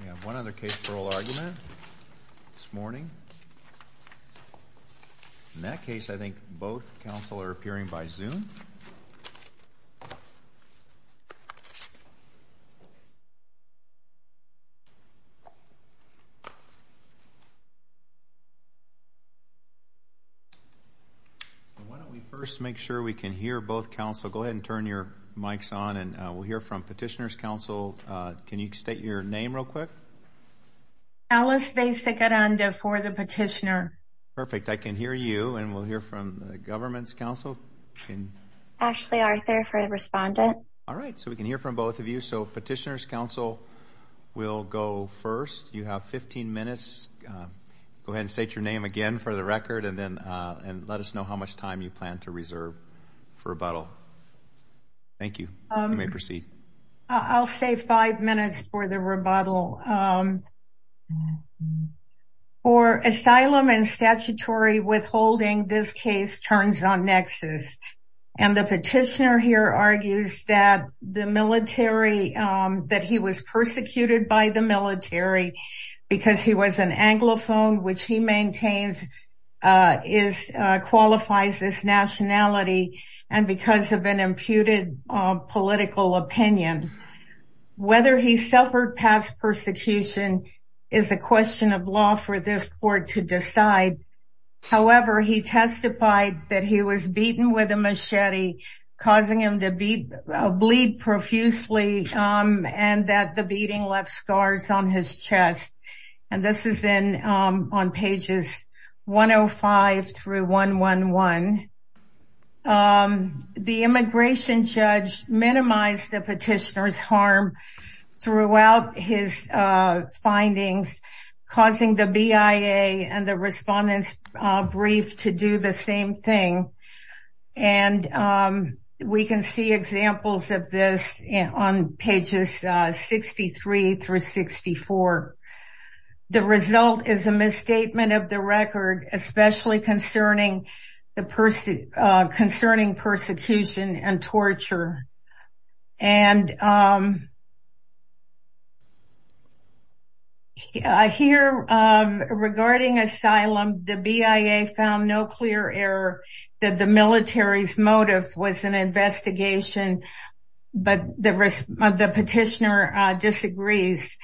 We have one other case for oral argument this morning. In that case, I think both counsel are appearing by Zoom. Why don't we first make sure we can hear both counsel. Go ahead and turn your microphone on real quick. Alice for the petitioner. Perfect. I can hear you and we'll hear from the government's counsel. Ashley Arthur for the respondent. All right. So we can hear from both of you. So petitioner's counsel will go first. You have 15 minutes. Go ahead and state your name again for the record and then let us know how much time you plan to reserve for rebuttal. Thank you. You may proceed. I'll say five minutes for the rebuttal. For asylum and statutory withholding, this case turns on nexus. And the petitioner here argues that the military, that he was persecuted by the military because he was an anglophone, which he imputed political opinion. Whether he suffered past persecution is a question of law for this court to decide. However, he testified that he was beaten with a machete, causing him to bleed profusely and that the beating left scars on his chest. And this is in on pages 105 through 111. The immigration judge minimized the petitioner's harm throughout his findings, causing the BIA and the respondent's brief to do the same thing. And we can see examples of this on pages 63 through 64. The result is a misstatement of the record, especially concerning the person concerning persecution and torture. And here regarding asylum, the BIA found no clear error that the military's motive was an investigation. But the petitioner disagrees.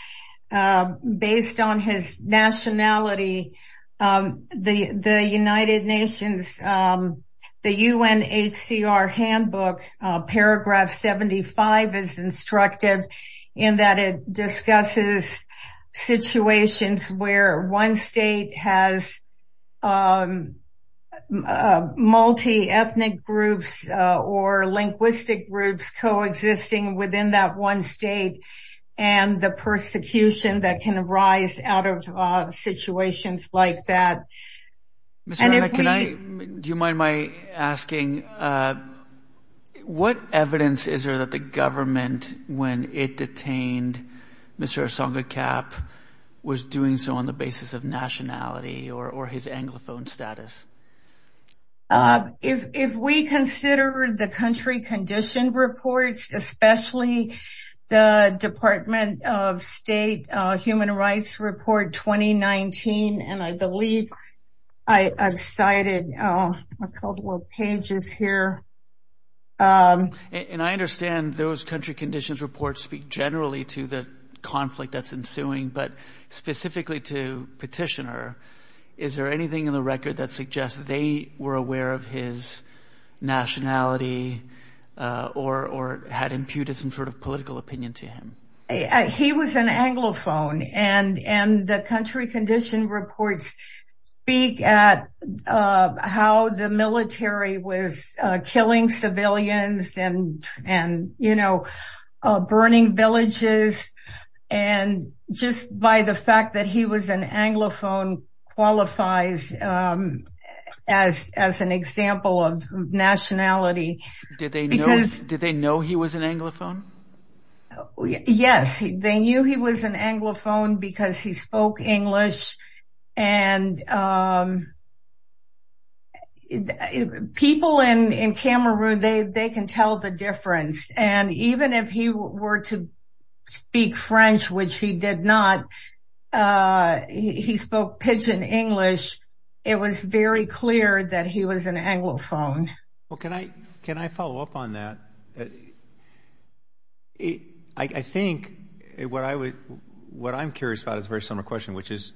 Based on his nationality, the United Nations, the UNHCR handbook, paragraph 75 is instructive in that it discusses situations where one state has multi-ethnic groups or linguistic groups coexisting within that one state and the persecution that can arise out of situations like that. Do you mind my asking, what evidence is there that the government, when it detained Mr. Osonga Cap, was doing so on the basis of nationality or his anglophone status? If we consider the country condition reports, especially the Department of State Human Rights Report 2019, and I believe I've cited a couple of pages here. And I understand those country conditions reports speak generally to the conflict that's ensuing, but specifically to petitioner, is there anything in the record that suggests they were aware of his nationality or had imputed some sort of political opinion to him? He was an anglophone and the country condition reports speak at how the military was killing civilians and burning villages. And just by the fact that he was an anglophone qualifies as an example of nationality. Did they know he was an anglophone? Yes, they knew he was an anglophone because he spoke English. And people in Cameroon, they can tell the difference. And even if he were to speak French, which he did not, he spoke pidgin English. It was very clear that he was an anglophone. Well, can I follow up on that? I think what I'm curious about is a very similar question, which is,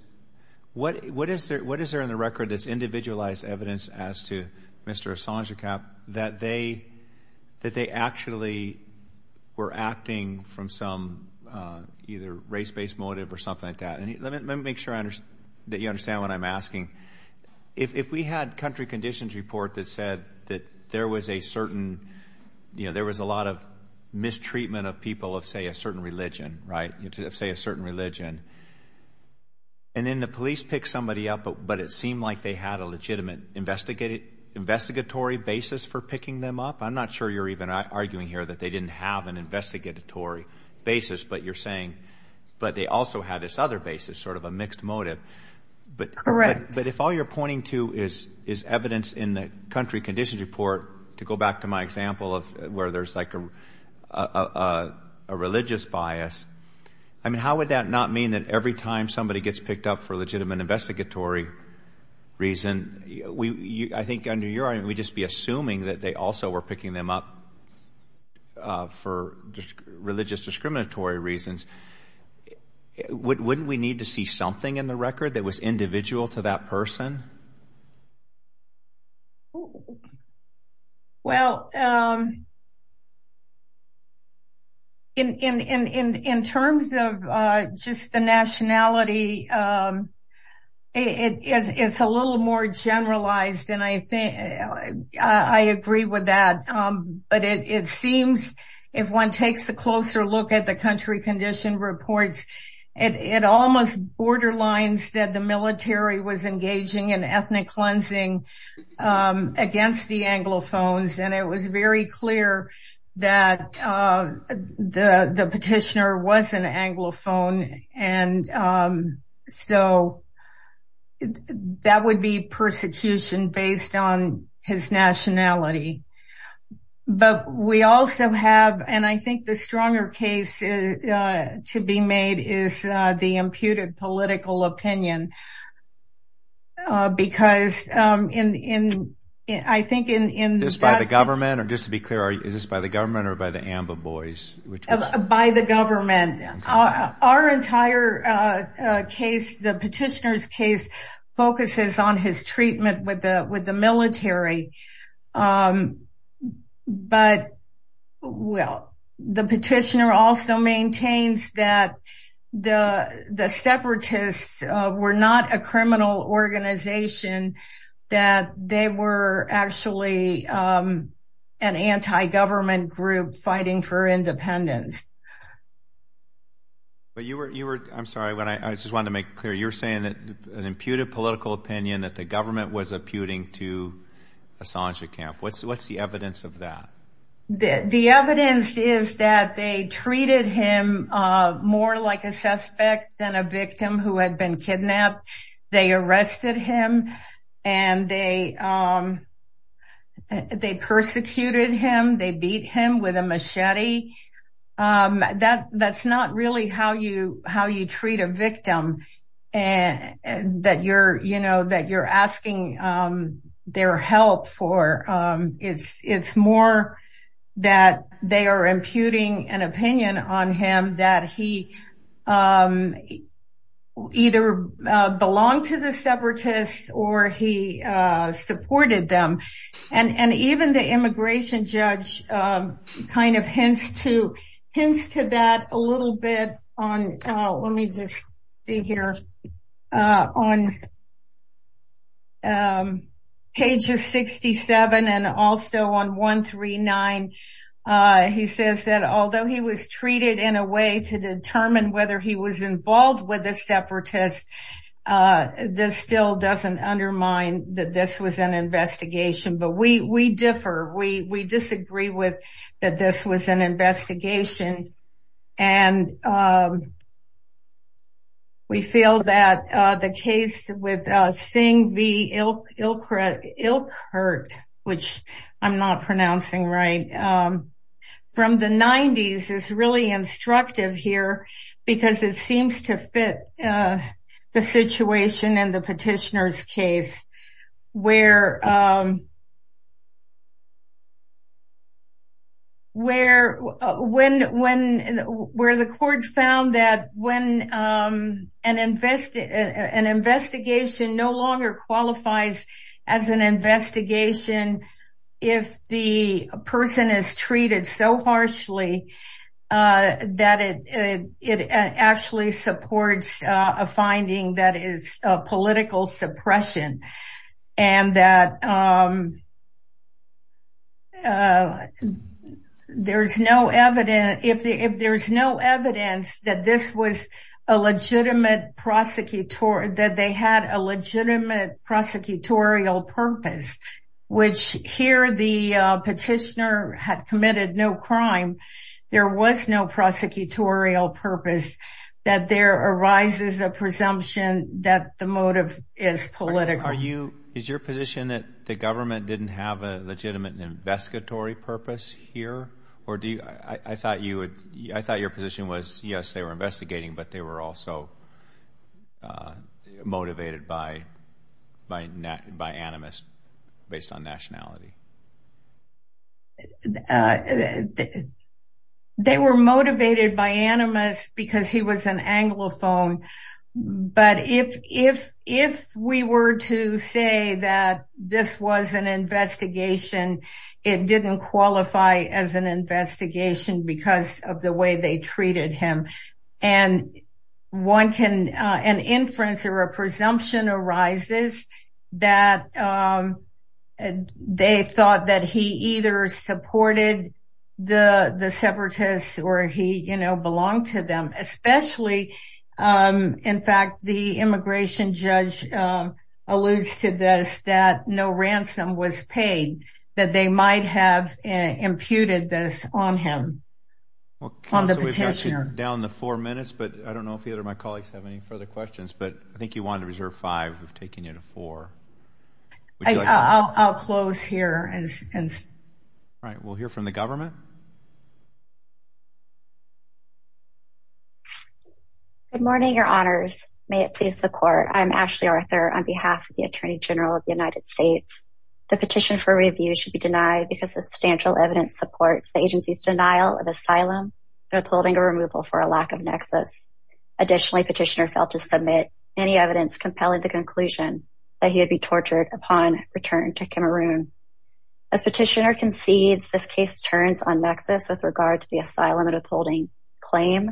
what is there in the record that's individualized evidence as to Mr. Assange Cap that they actually were acting from some either race-based motive or something like that? And let me make sure that you understand what I'm asking. If we had country conditions report that said that there was a certain, you know, there was a lot of mistreatment of people of, say, certain religion, right, say a certain religion. And then the police pick somebody up, but it seemed like they had a legitimate investigatory basis for picking them up. I'm not sure you're even arguing here that they didn't have an investigatory basis, but you're saying, but they also had this other basis, sort of a mixed motive. Correct. But if all you're pointing to is evidence in the country conditions report, to go back to my a religious bias, I mean, how would that not mean that every time somebody gets picked up for legitimate investigatory reason, I think under your argument, we'd just be assuming that they also were picking them up for religious discriminatory reasons. Wouldn't we need to see something in the record that was individual to that person? Well, in terms of just the nationality, it's a little more generalized, and I agree with that. But it seems if one takes a closer look at the country condition reports, it almost borderlines that the military was engaging in ethnic cleansing against the Anglophones. And it was very clear that the petitioner was an Anglophone. And so that would be persecution based on his nationality. But we also have, and I think the stronger case to be made is the imputed political opinion. Because I think in- Is this by the government, or just to be clear, is this by the government or by the Amba Boys? By the government. Our entire case, the petitioner's case, focuses on his treatment with the military. But, well, the petitioner also maintains that the separatists were not a criminal organization, that they were actually an anti-government group fighting for independence. But you were, I'm sorry, I just wanted to make clear, you're saying that an imputed political opinion that the government was imputing to Assange Camp. What's the evidence of that? The evidence is that they treated him more like a suspect than a victim who had been kidnapped. They arrested him, and they persecuted him. They beat him with a machete. That's not really how you treat a victim that you're asking their help for. It's more that they are imputing an opinion on him that he either belonged to the separatists or he supported them. Even the immigration judge hints to that a little bit on, let me just see here, on pages 67 and also on 139. He says that although he was treated in a way to determine whether he was involved with the separatists, this still doesn't undermine that this was an investigation. But we differ. We disagree with that this was an investigation. We feel that the case with Singh B. Ilkert, which I'm not pronouncing right, from the 90s is really instructive here because it seems to fit the situation in the petitioner's case where the court found that when an investigation no longer qualifies as an investigation if the person is treated so harshly that it actually supports a finding that is political suppression. If there's no evidence that they had a legitimate prosecutorial purpose which here the petitioner had committed no crime, there was no prosecutorial purpose, that there arises a presumption that the motive is political. Is your position that the government didn't have a legitimate investigatory purpose here? I thought your position was yes, they were investigating, but they were also motivated by animus based on nationality. They were motivated by animus because he was an anglophone, but if we were to say that this was an investigation, it didn't qualify as an investigation because of the way they treated him. An inference or a presumption arises that they thought that he either supported the separatists or he belonged to them. In fact, the immigration judge alludes to this that no ransom was paid, that they might have imputed this on him. We've got you down to four minutes, but I don't know if either of my colleagues have any further questions, but I think you wanted to reserve five. We've taken you to four. I'll close here. We'll hear from the government. Good morning, your honors. May it please the court. I'm Ashley Arthur on behalf of the attorney general of the United States. The petition for review should be denied because the substantial evidence supports the agency's denial of asylum and upholding a removal for a lack of nexus. Additionally, petitioner failed to submit any evidence compelling the conclusion that he had been tortured upon return to Cameroon. As petitioner concedes, this case turns on nexus with regard to the asylum and upholding claim.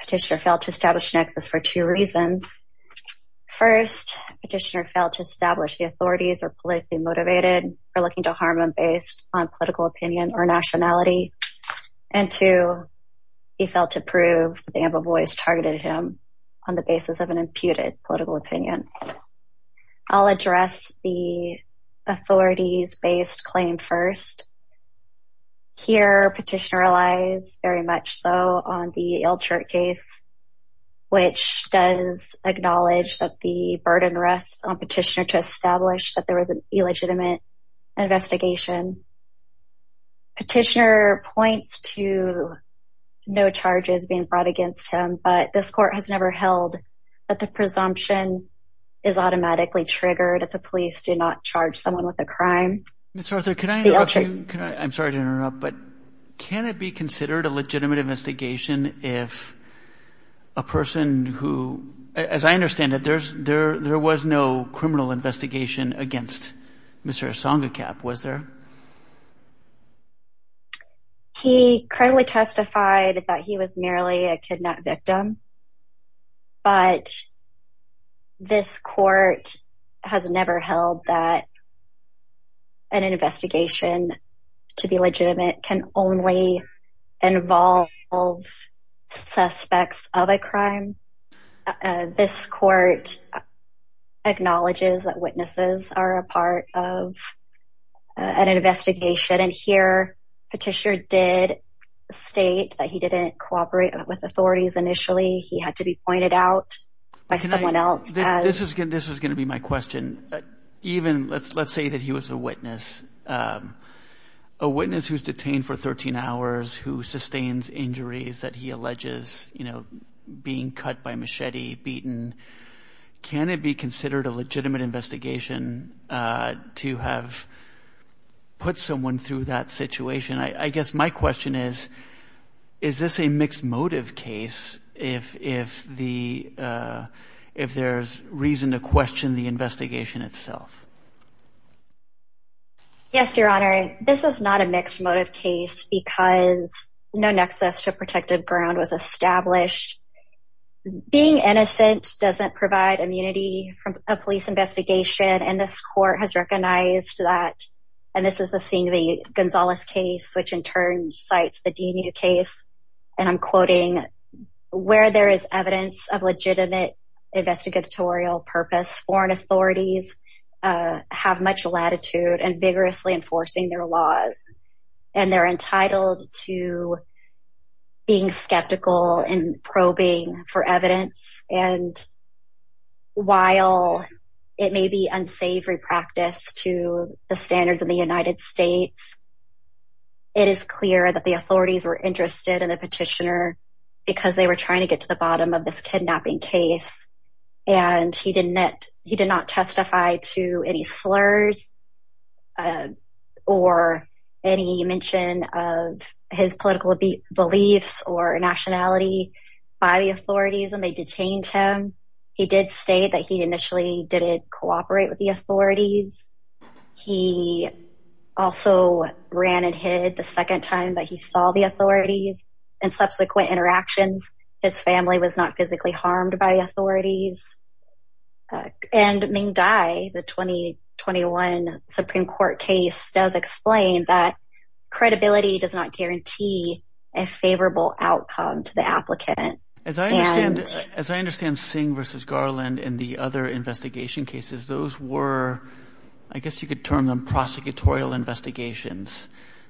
Petitioner failed to establish nexus for two reasons. First, petitioner failed to establish the authorities are politically motivated or looking to harm him based on political opinion or nationality, and two, he failed to prove that the Amba boys targeted him on the basis of an imputed political opinion. I'll address the petitioner relies very much so on the Ilchert case, which does acknowledge that the burden rests on petitioner to establish that there was an illegitimate investigation. Petitioner points to no charges being brought against him, but this court has never held that the presumption is automatically triggered if the police do not charge someone with a crime. Mr. Arthur, can I interrupt you? I'm sorry to interrupt, but can it be considered a legitimate investigation if a person who, as I understand it, there was no criminal investigation against Mr. Asanga Kap, was there? He currently testified that he was merely a kidnap victim, but this court has never held that an investigation to be legitimate can only involve suspects of a crime. This court acknowledges that witnesses are a part of an investigation, and here, petitioner did state that he didn't cooperate with authorities initially. He had to be pointed out by someone else. This is going to be my question. Even let's say that he was a witness, a witness who's detained for 13 hours, who sustains injuries that he alleges, you know, being cut by machete, beaten. Can it be considered a legitimate investigation to have put someone through that situation? I guess my question is, is this a mixed motive case if there's reason to question the investigation itself? Yes, your honor. This is not a mixed motive case because no nexus to protected ground was established. Being innocent doesn't provide immunity from a police investigation, and this and I'm quoting, where there is evidence of legitimate investigatorial purpose, foreign authorities have much latitude and vigorously enforcing their laws, and they're entitled to being skeptical and probing for evidence, and while it may be unsavory practice to the standards of the United States, it is clear that the authorities were interested in the petitioner because they were trying to get to the bottom of this kidnapping case, and he did not testify to any slurs or any mention of his political beliefs or nationality by the authorities when they detained him. He did state that he initially didn't cooperate with the authorities. He also ran and hid the second time that he saw the authorities and subsequent interactions. His family was not physically harmed by authorities, and Ming Dai, the 2021 Supreme Court case does explain that credibility does not guarantee a favorable outcome to the applicant. As I understand, as I understand Singh versus Garland and the other investigation cases, those were, I guess you could term them prosecutorial investigations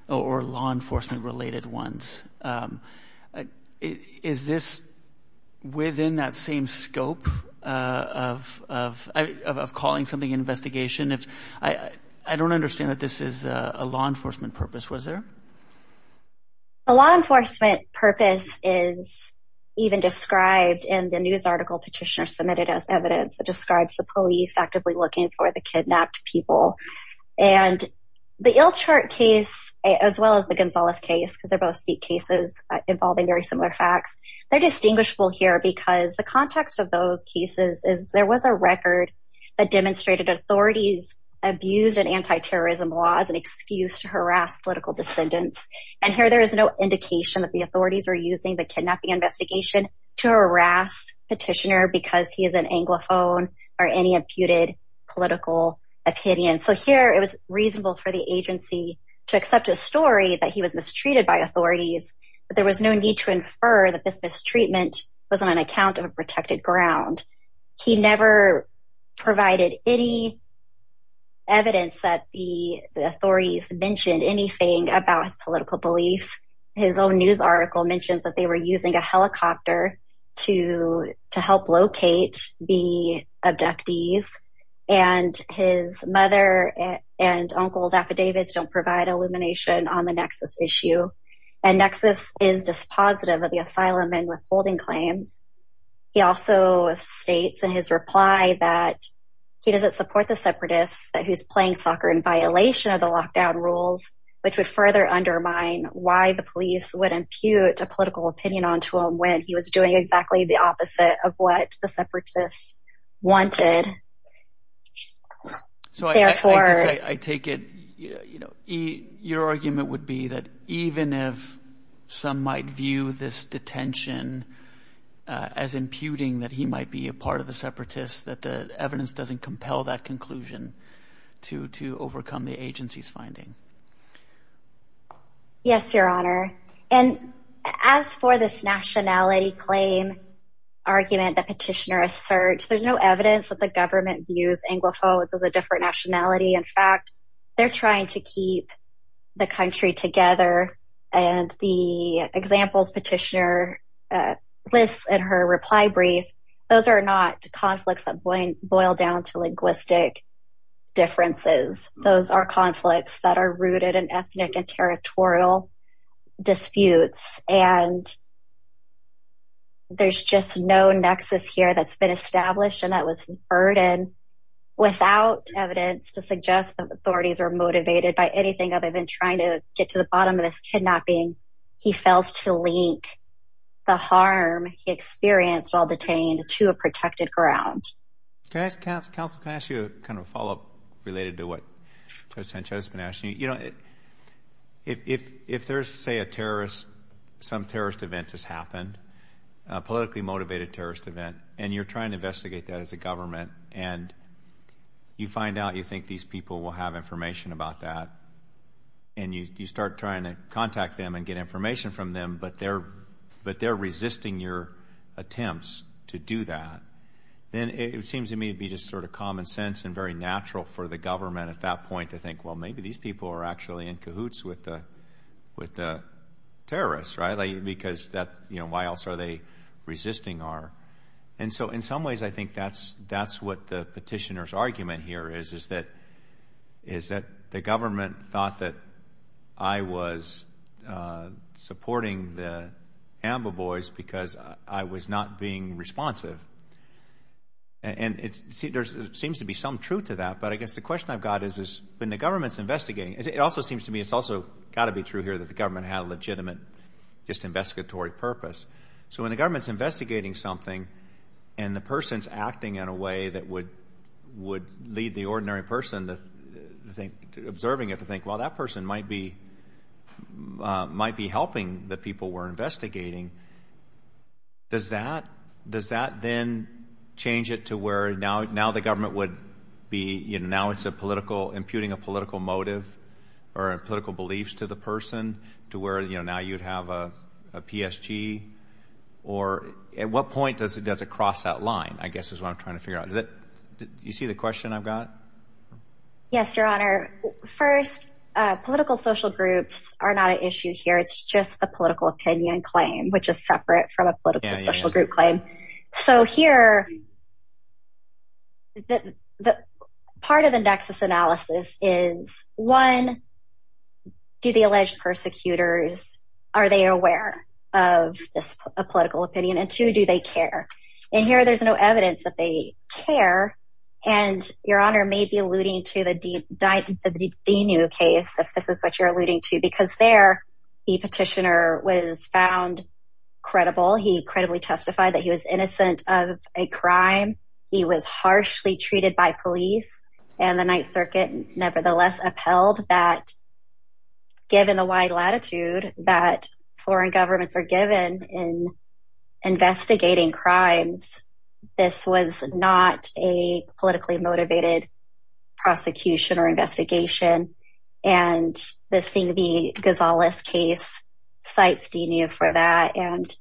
or law enforcement related ones. Is this within that same scope of calling something an investigation? I don't understand that this is a law enforcement purpose, was there? A law enforcement purpose is even described in the news article petitioner evidence that describes the police actively looking for the kidnapped people, and the Ilchart case as well as the Gonzalez case, because they're both seat cases involving very similar facts, they're distinguishable here because the context of those cases is there was a record that demonstrated authorities abused an anti-terrorism law as an excuse to harass political descendants, and here there is no indication that the authorities were using the kidnapping investigation to harass petitioner because he is an anglophone or any imputed political opinion. So here it was reasonable for the agency to accept a story that he was mistreated by authorities, but there was no need to infer that this mistreatment was on an account of a protected ground. He never provided any evidence that the authorities mentioned anything about his political beliefs. His own news article mentions that they were using a helicopter to help locate the abductees, and his mother and uncle's affidavits don't provide illumination on the nexus issue, and nexus is dispositive of the asylum and withholding claims. He also states in his reply that he doesn't support the separatists who's playing undermine why the police would impute a political opinion onto him when he was doing exactly the opposite of what the separatists wanted. So I guess I take it, you know, your argument would be that even if some might view this detention as imputing that he might be a part of the separatists that the evidence doesn't compel that conclusion to overcome the agency's finding. Yes, your honor, and as for this nationality claim argument that petitioner asserts, there's no evidence that the government views anglophones as a different nationality. In fact, they're trying to keep the country together, and the examples petitioner lists in her reply brief, those are not conflicts that boil down to linguistic differences. Those are conflicts that are rooted in territorial disputes, and there's just no nexus here that's been established and that was burdened without evidence to suggest that the authorities are motivated by anything other than trying to get to the bottom of this kidnapping. He fails to link the harm he experienced while detained to a protected ground. Okay, counsel, can I ask you kind of a follow-up related to what Sanchez has been asking? You know, if there's, say, a terrorist, some terrorist event has happened, a politically motivated terrorist event, and you're trying to investigate that as a government, and you find out you think these people will have information about that, and you start trying to contact them and get information from them, but they're resisting your attempts to do that, then it seems to me to be just sort of common sense and very natural for the government at that point to think, well, maybe these people are actually in cahoots with the with the terrorists, right? Because that, you know, why else are they resisting our... And so in some ways, I think that's what the petitioner's argument here is, is that the government thought that I was supporting the Amba Boys because I was not being responsive, and it seems to be some truth to that, but I guess the question I've got is, when the government's investigating, it also seems to me it's also got to be true here that the government had a legitimate just investigatory purpose. So when the government's investigating something, and the person's acting in a way that would would lead the ordinary person to think, observing it, to think, well, that person might be might be helping the people we're investigating, does that, does that then change it to where now the government would be, you know, now it's a political, imputing a political motive or political beliefs to the person to where, you know, now you'd have a PSG? Or at what point does it does it cross that line? I guess is what I'm trying to figure out. Does it, do you see the question I've got? Yes, Your Honor. First, political social groups are not an issue here. It's just the political opinion claim, which is separate from a political social group claim. So here, the part of the nexus analysis is, one, do the alleged persecutors, are they aware of this political opinion? And two, do they care? And here, there's no evidence that they care. And Your Honor may be alluding to the Dinu case, if this is what you're alluding to, because there, the petitioner was found credible, he credibly testified that he was innocent of a crime, he was harshly treated by police, and the Ninth Circuit nevertheless upheld that, given the wide latitude that foreign governments are given in investigating crimes, this was not a politically motivated prosecution or investigation. And this thing, the Gonzalez case, cites Dinu for that. And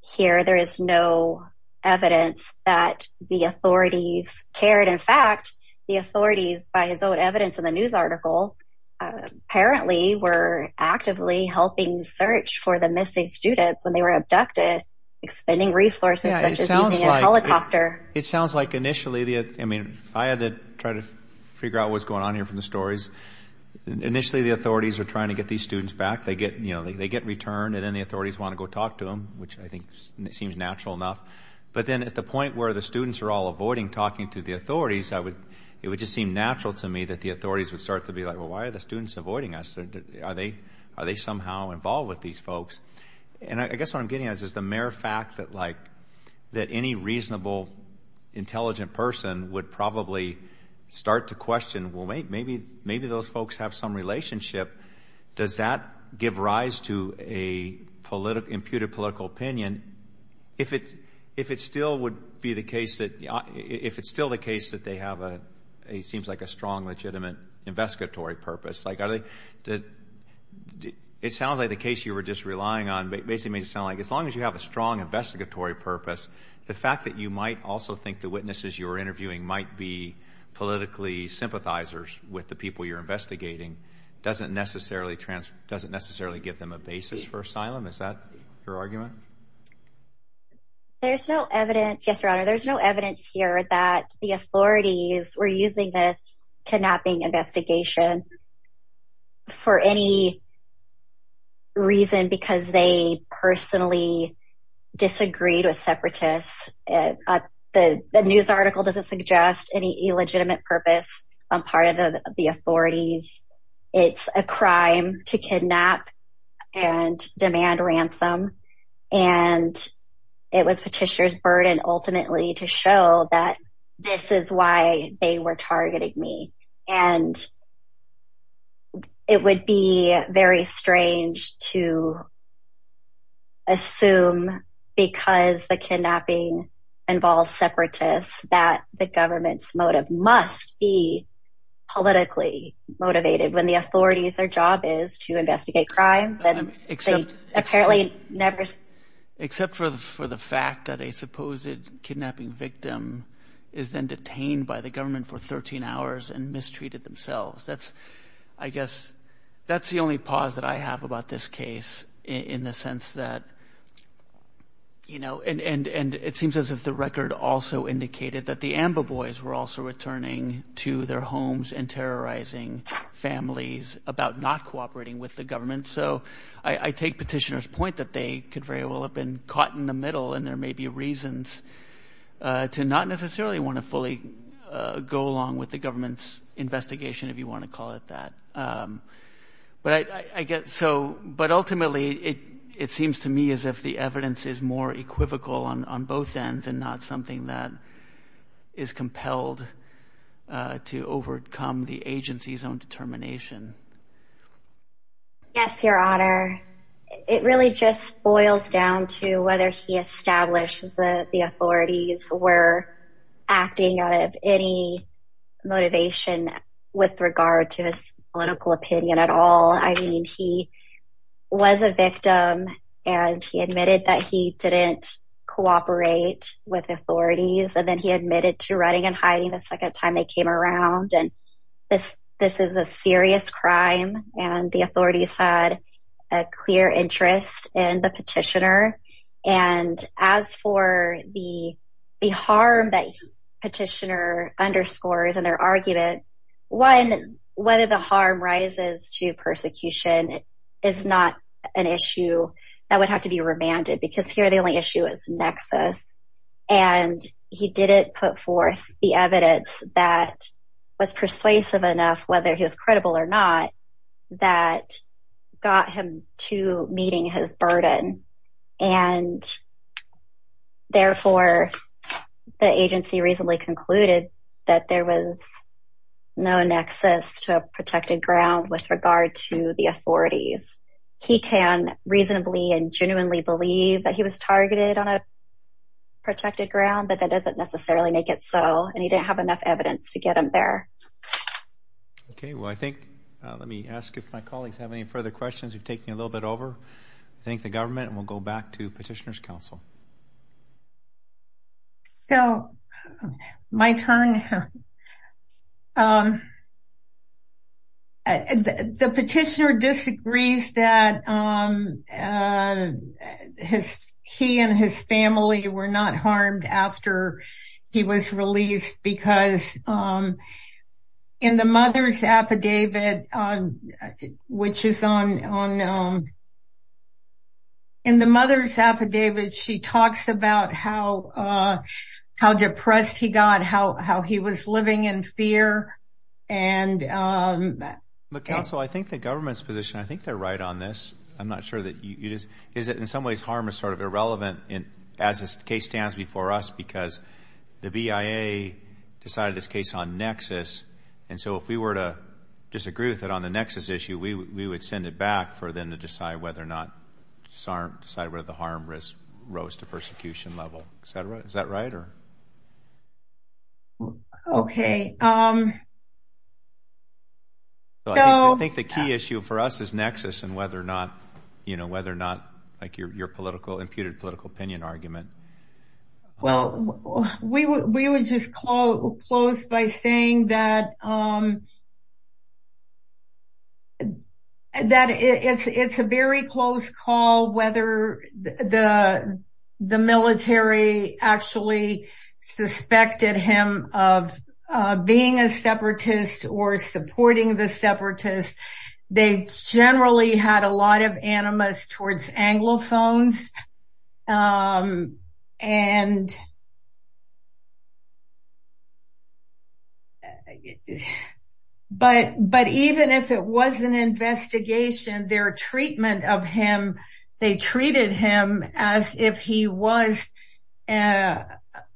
here, there is no evidence that the authorities cared. In fact, the authorities, by his own evidence in the news article, apparently were actively helping search for the missing students when they were abducted, expending resources, such as using a helicopter. It sounds like initially, I mean, I had to try to figure out what's going on here from the stories. Initially, the authorities are trying to get these students back, they get returned, and then the authorities want to go talk to them, which I think seems natural enough. But then at the point where the students are all avoiding talking to the authorities, it would just seem natural to me that the authorities would start to be like, well, why are the students avoiding us? Are they somehow involved with these folks? And I guess what I'm getting at is the mere fact that any reasonable, intelligent person would probably start to question, well, maybe those folks have some relationship. Does that give rise to an imputed political opinion? If it's still the case that they have a strong, legitimate investigatory purpose, it sounds like the case you were just relying on basically made it sound like as long as you have a strong investigatory purpose, the fact that you might also think the witnesses you were interviewing might be politically sympathizers with the people you're investigating doesn't necessarily give them a basis for asylum. Is that your argument? There's no evidence here that the authorities were using this kidnapping investigation for any reason because they personally disagreed with separatists. The news article doesn't suggest any illegitimate purpose on part of the authorities. It's a crime to kidnap and demand ransom, and it was Petitioner's burden ultimately to show that this is why they were targeting me. And it would be very strange to assume because the kidnapping involves separatists that the government's motive must be politically motivated when the authorities, their job is to investigate crimes. Except for the fact that a supposed kidnapping victim is then detained by the government for 13 hours and mistreated themselves. That's, I guess, that's the only pause that I have about this case in the sense that, you know, and it seems as if the record also indicated that the AMBA boys were also returning to their homes and terrorizing families about not cooperating with the government. So, I take Petitioner's point that they could very well have been caught in the middle and there may be reasons to not necessarily want to fully go along with the government's investigation, if you want to call it that. But ultimately, it seems to me as if the evidence is more equivocal on both ends and not something that is compelled to overcome the agency's own determination. Yes, Your Honor. It really just boils down to whether he established that the regard to his political opinion at all. I mean, he was a victim and he admitted that he didn't cooperate with authorities and then he admitted to running and hiding the second time they came around. And this is a serious crime and the authorities had a clear interest in the Petitioner. And as for the harm that Petitioner underscores in their argument, one, whether the harm rises to persecution is not an issue that would have to be remanded because here the only issue is nexus. And he didn't put forth the evidence that was persuasive enough, whether he was credible or not, that got him to meeting his burden. And therefore, the agency reasonably concluded that there was no nexus to a protected ground with regard to the authorities. He can reasonably and genuinely believe that he was targeted on a protected ground, but that doesn't necessarily make it so. And he didn't have enough evidence to get him there. Okay, well, I think let me ask if my colleagues have any further questions. We've taken a little bit over. I thank the government and we'll go back to Petitioner's counsel. So my turn. The Petitioner disagrees that he and his family were not harmed after he was released because in the mother's affidavit, which is on, in the mother's affidavit, she talks about how depressed he got, how he was living in I'm not sure that you just, is it in some ways harm is sort of irrelevant as this case stands before us because the BIA decided this case on nexus. And so if we were to disagree with it on the nexus issue, we would send it back for them to decide whether or not, decide whether the harm risk rose to persecution level, et cetera. Is that right? Okay. So I think the key issue for us is whether or not, like your political, imputed political opinion argument. Well, we would just close by saying that it's a very close call whether the military actually suspected him of being a separatist or supporting the separatists. They generally had a lot of towards anglophones. But even if it was an investigation, their treatment of him, they treated him as if he was a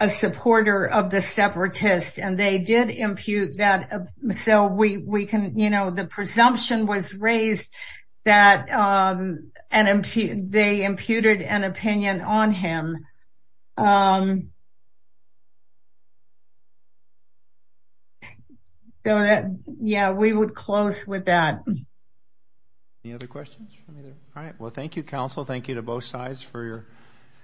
supporter of the separatists. And they did impute that. So we can, the presumption was raised that they imputed an opinion on him. Yeah, we would close with that. Any other questions? All right. Well, thank you, counsel. Thank you to both sides for your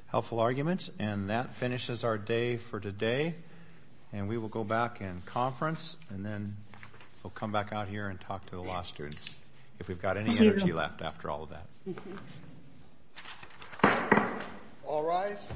helpful arguments. And that finishes our day for today. And we will go back and conference, and then we'll come back out here and talk to the law students if we've got any energy left after all of that. All rise.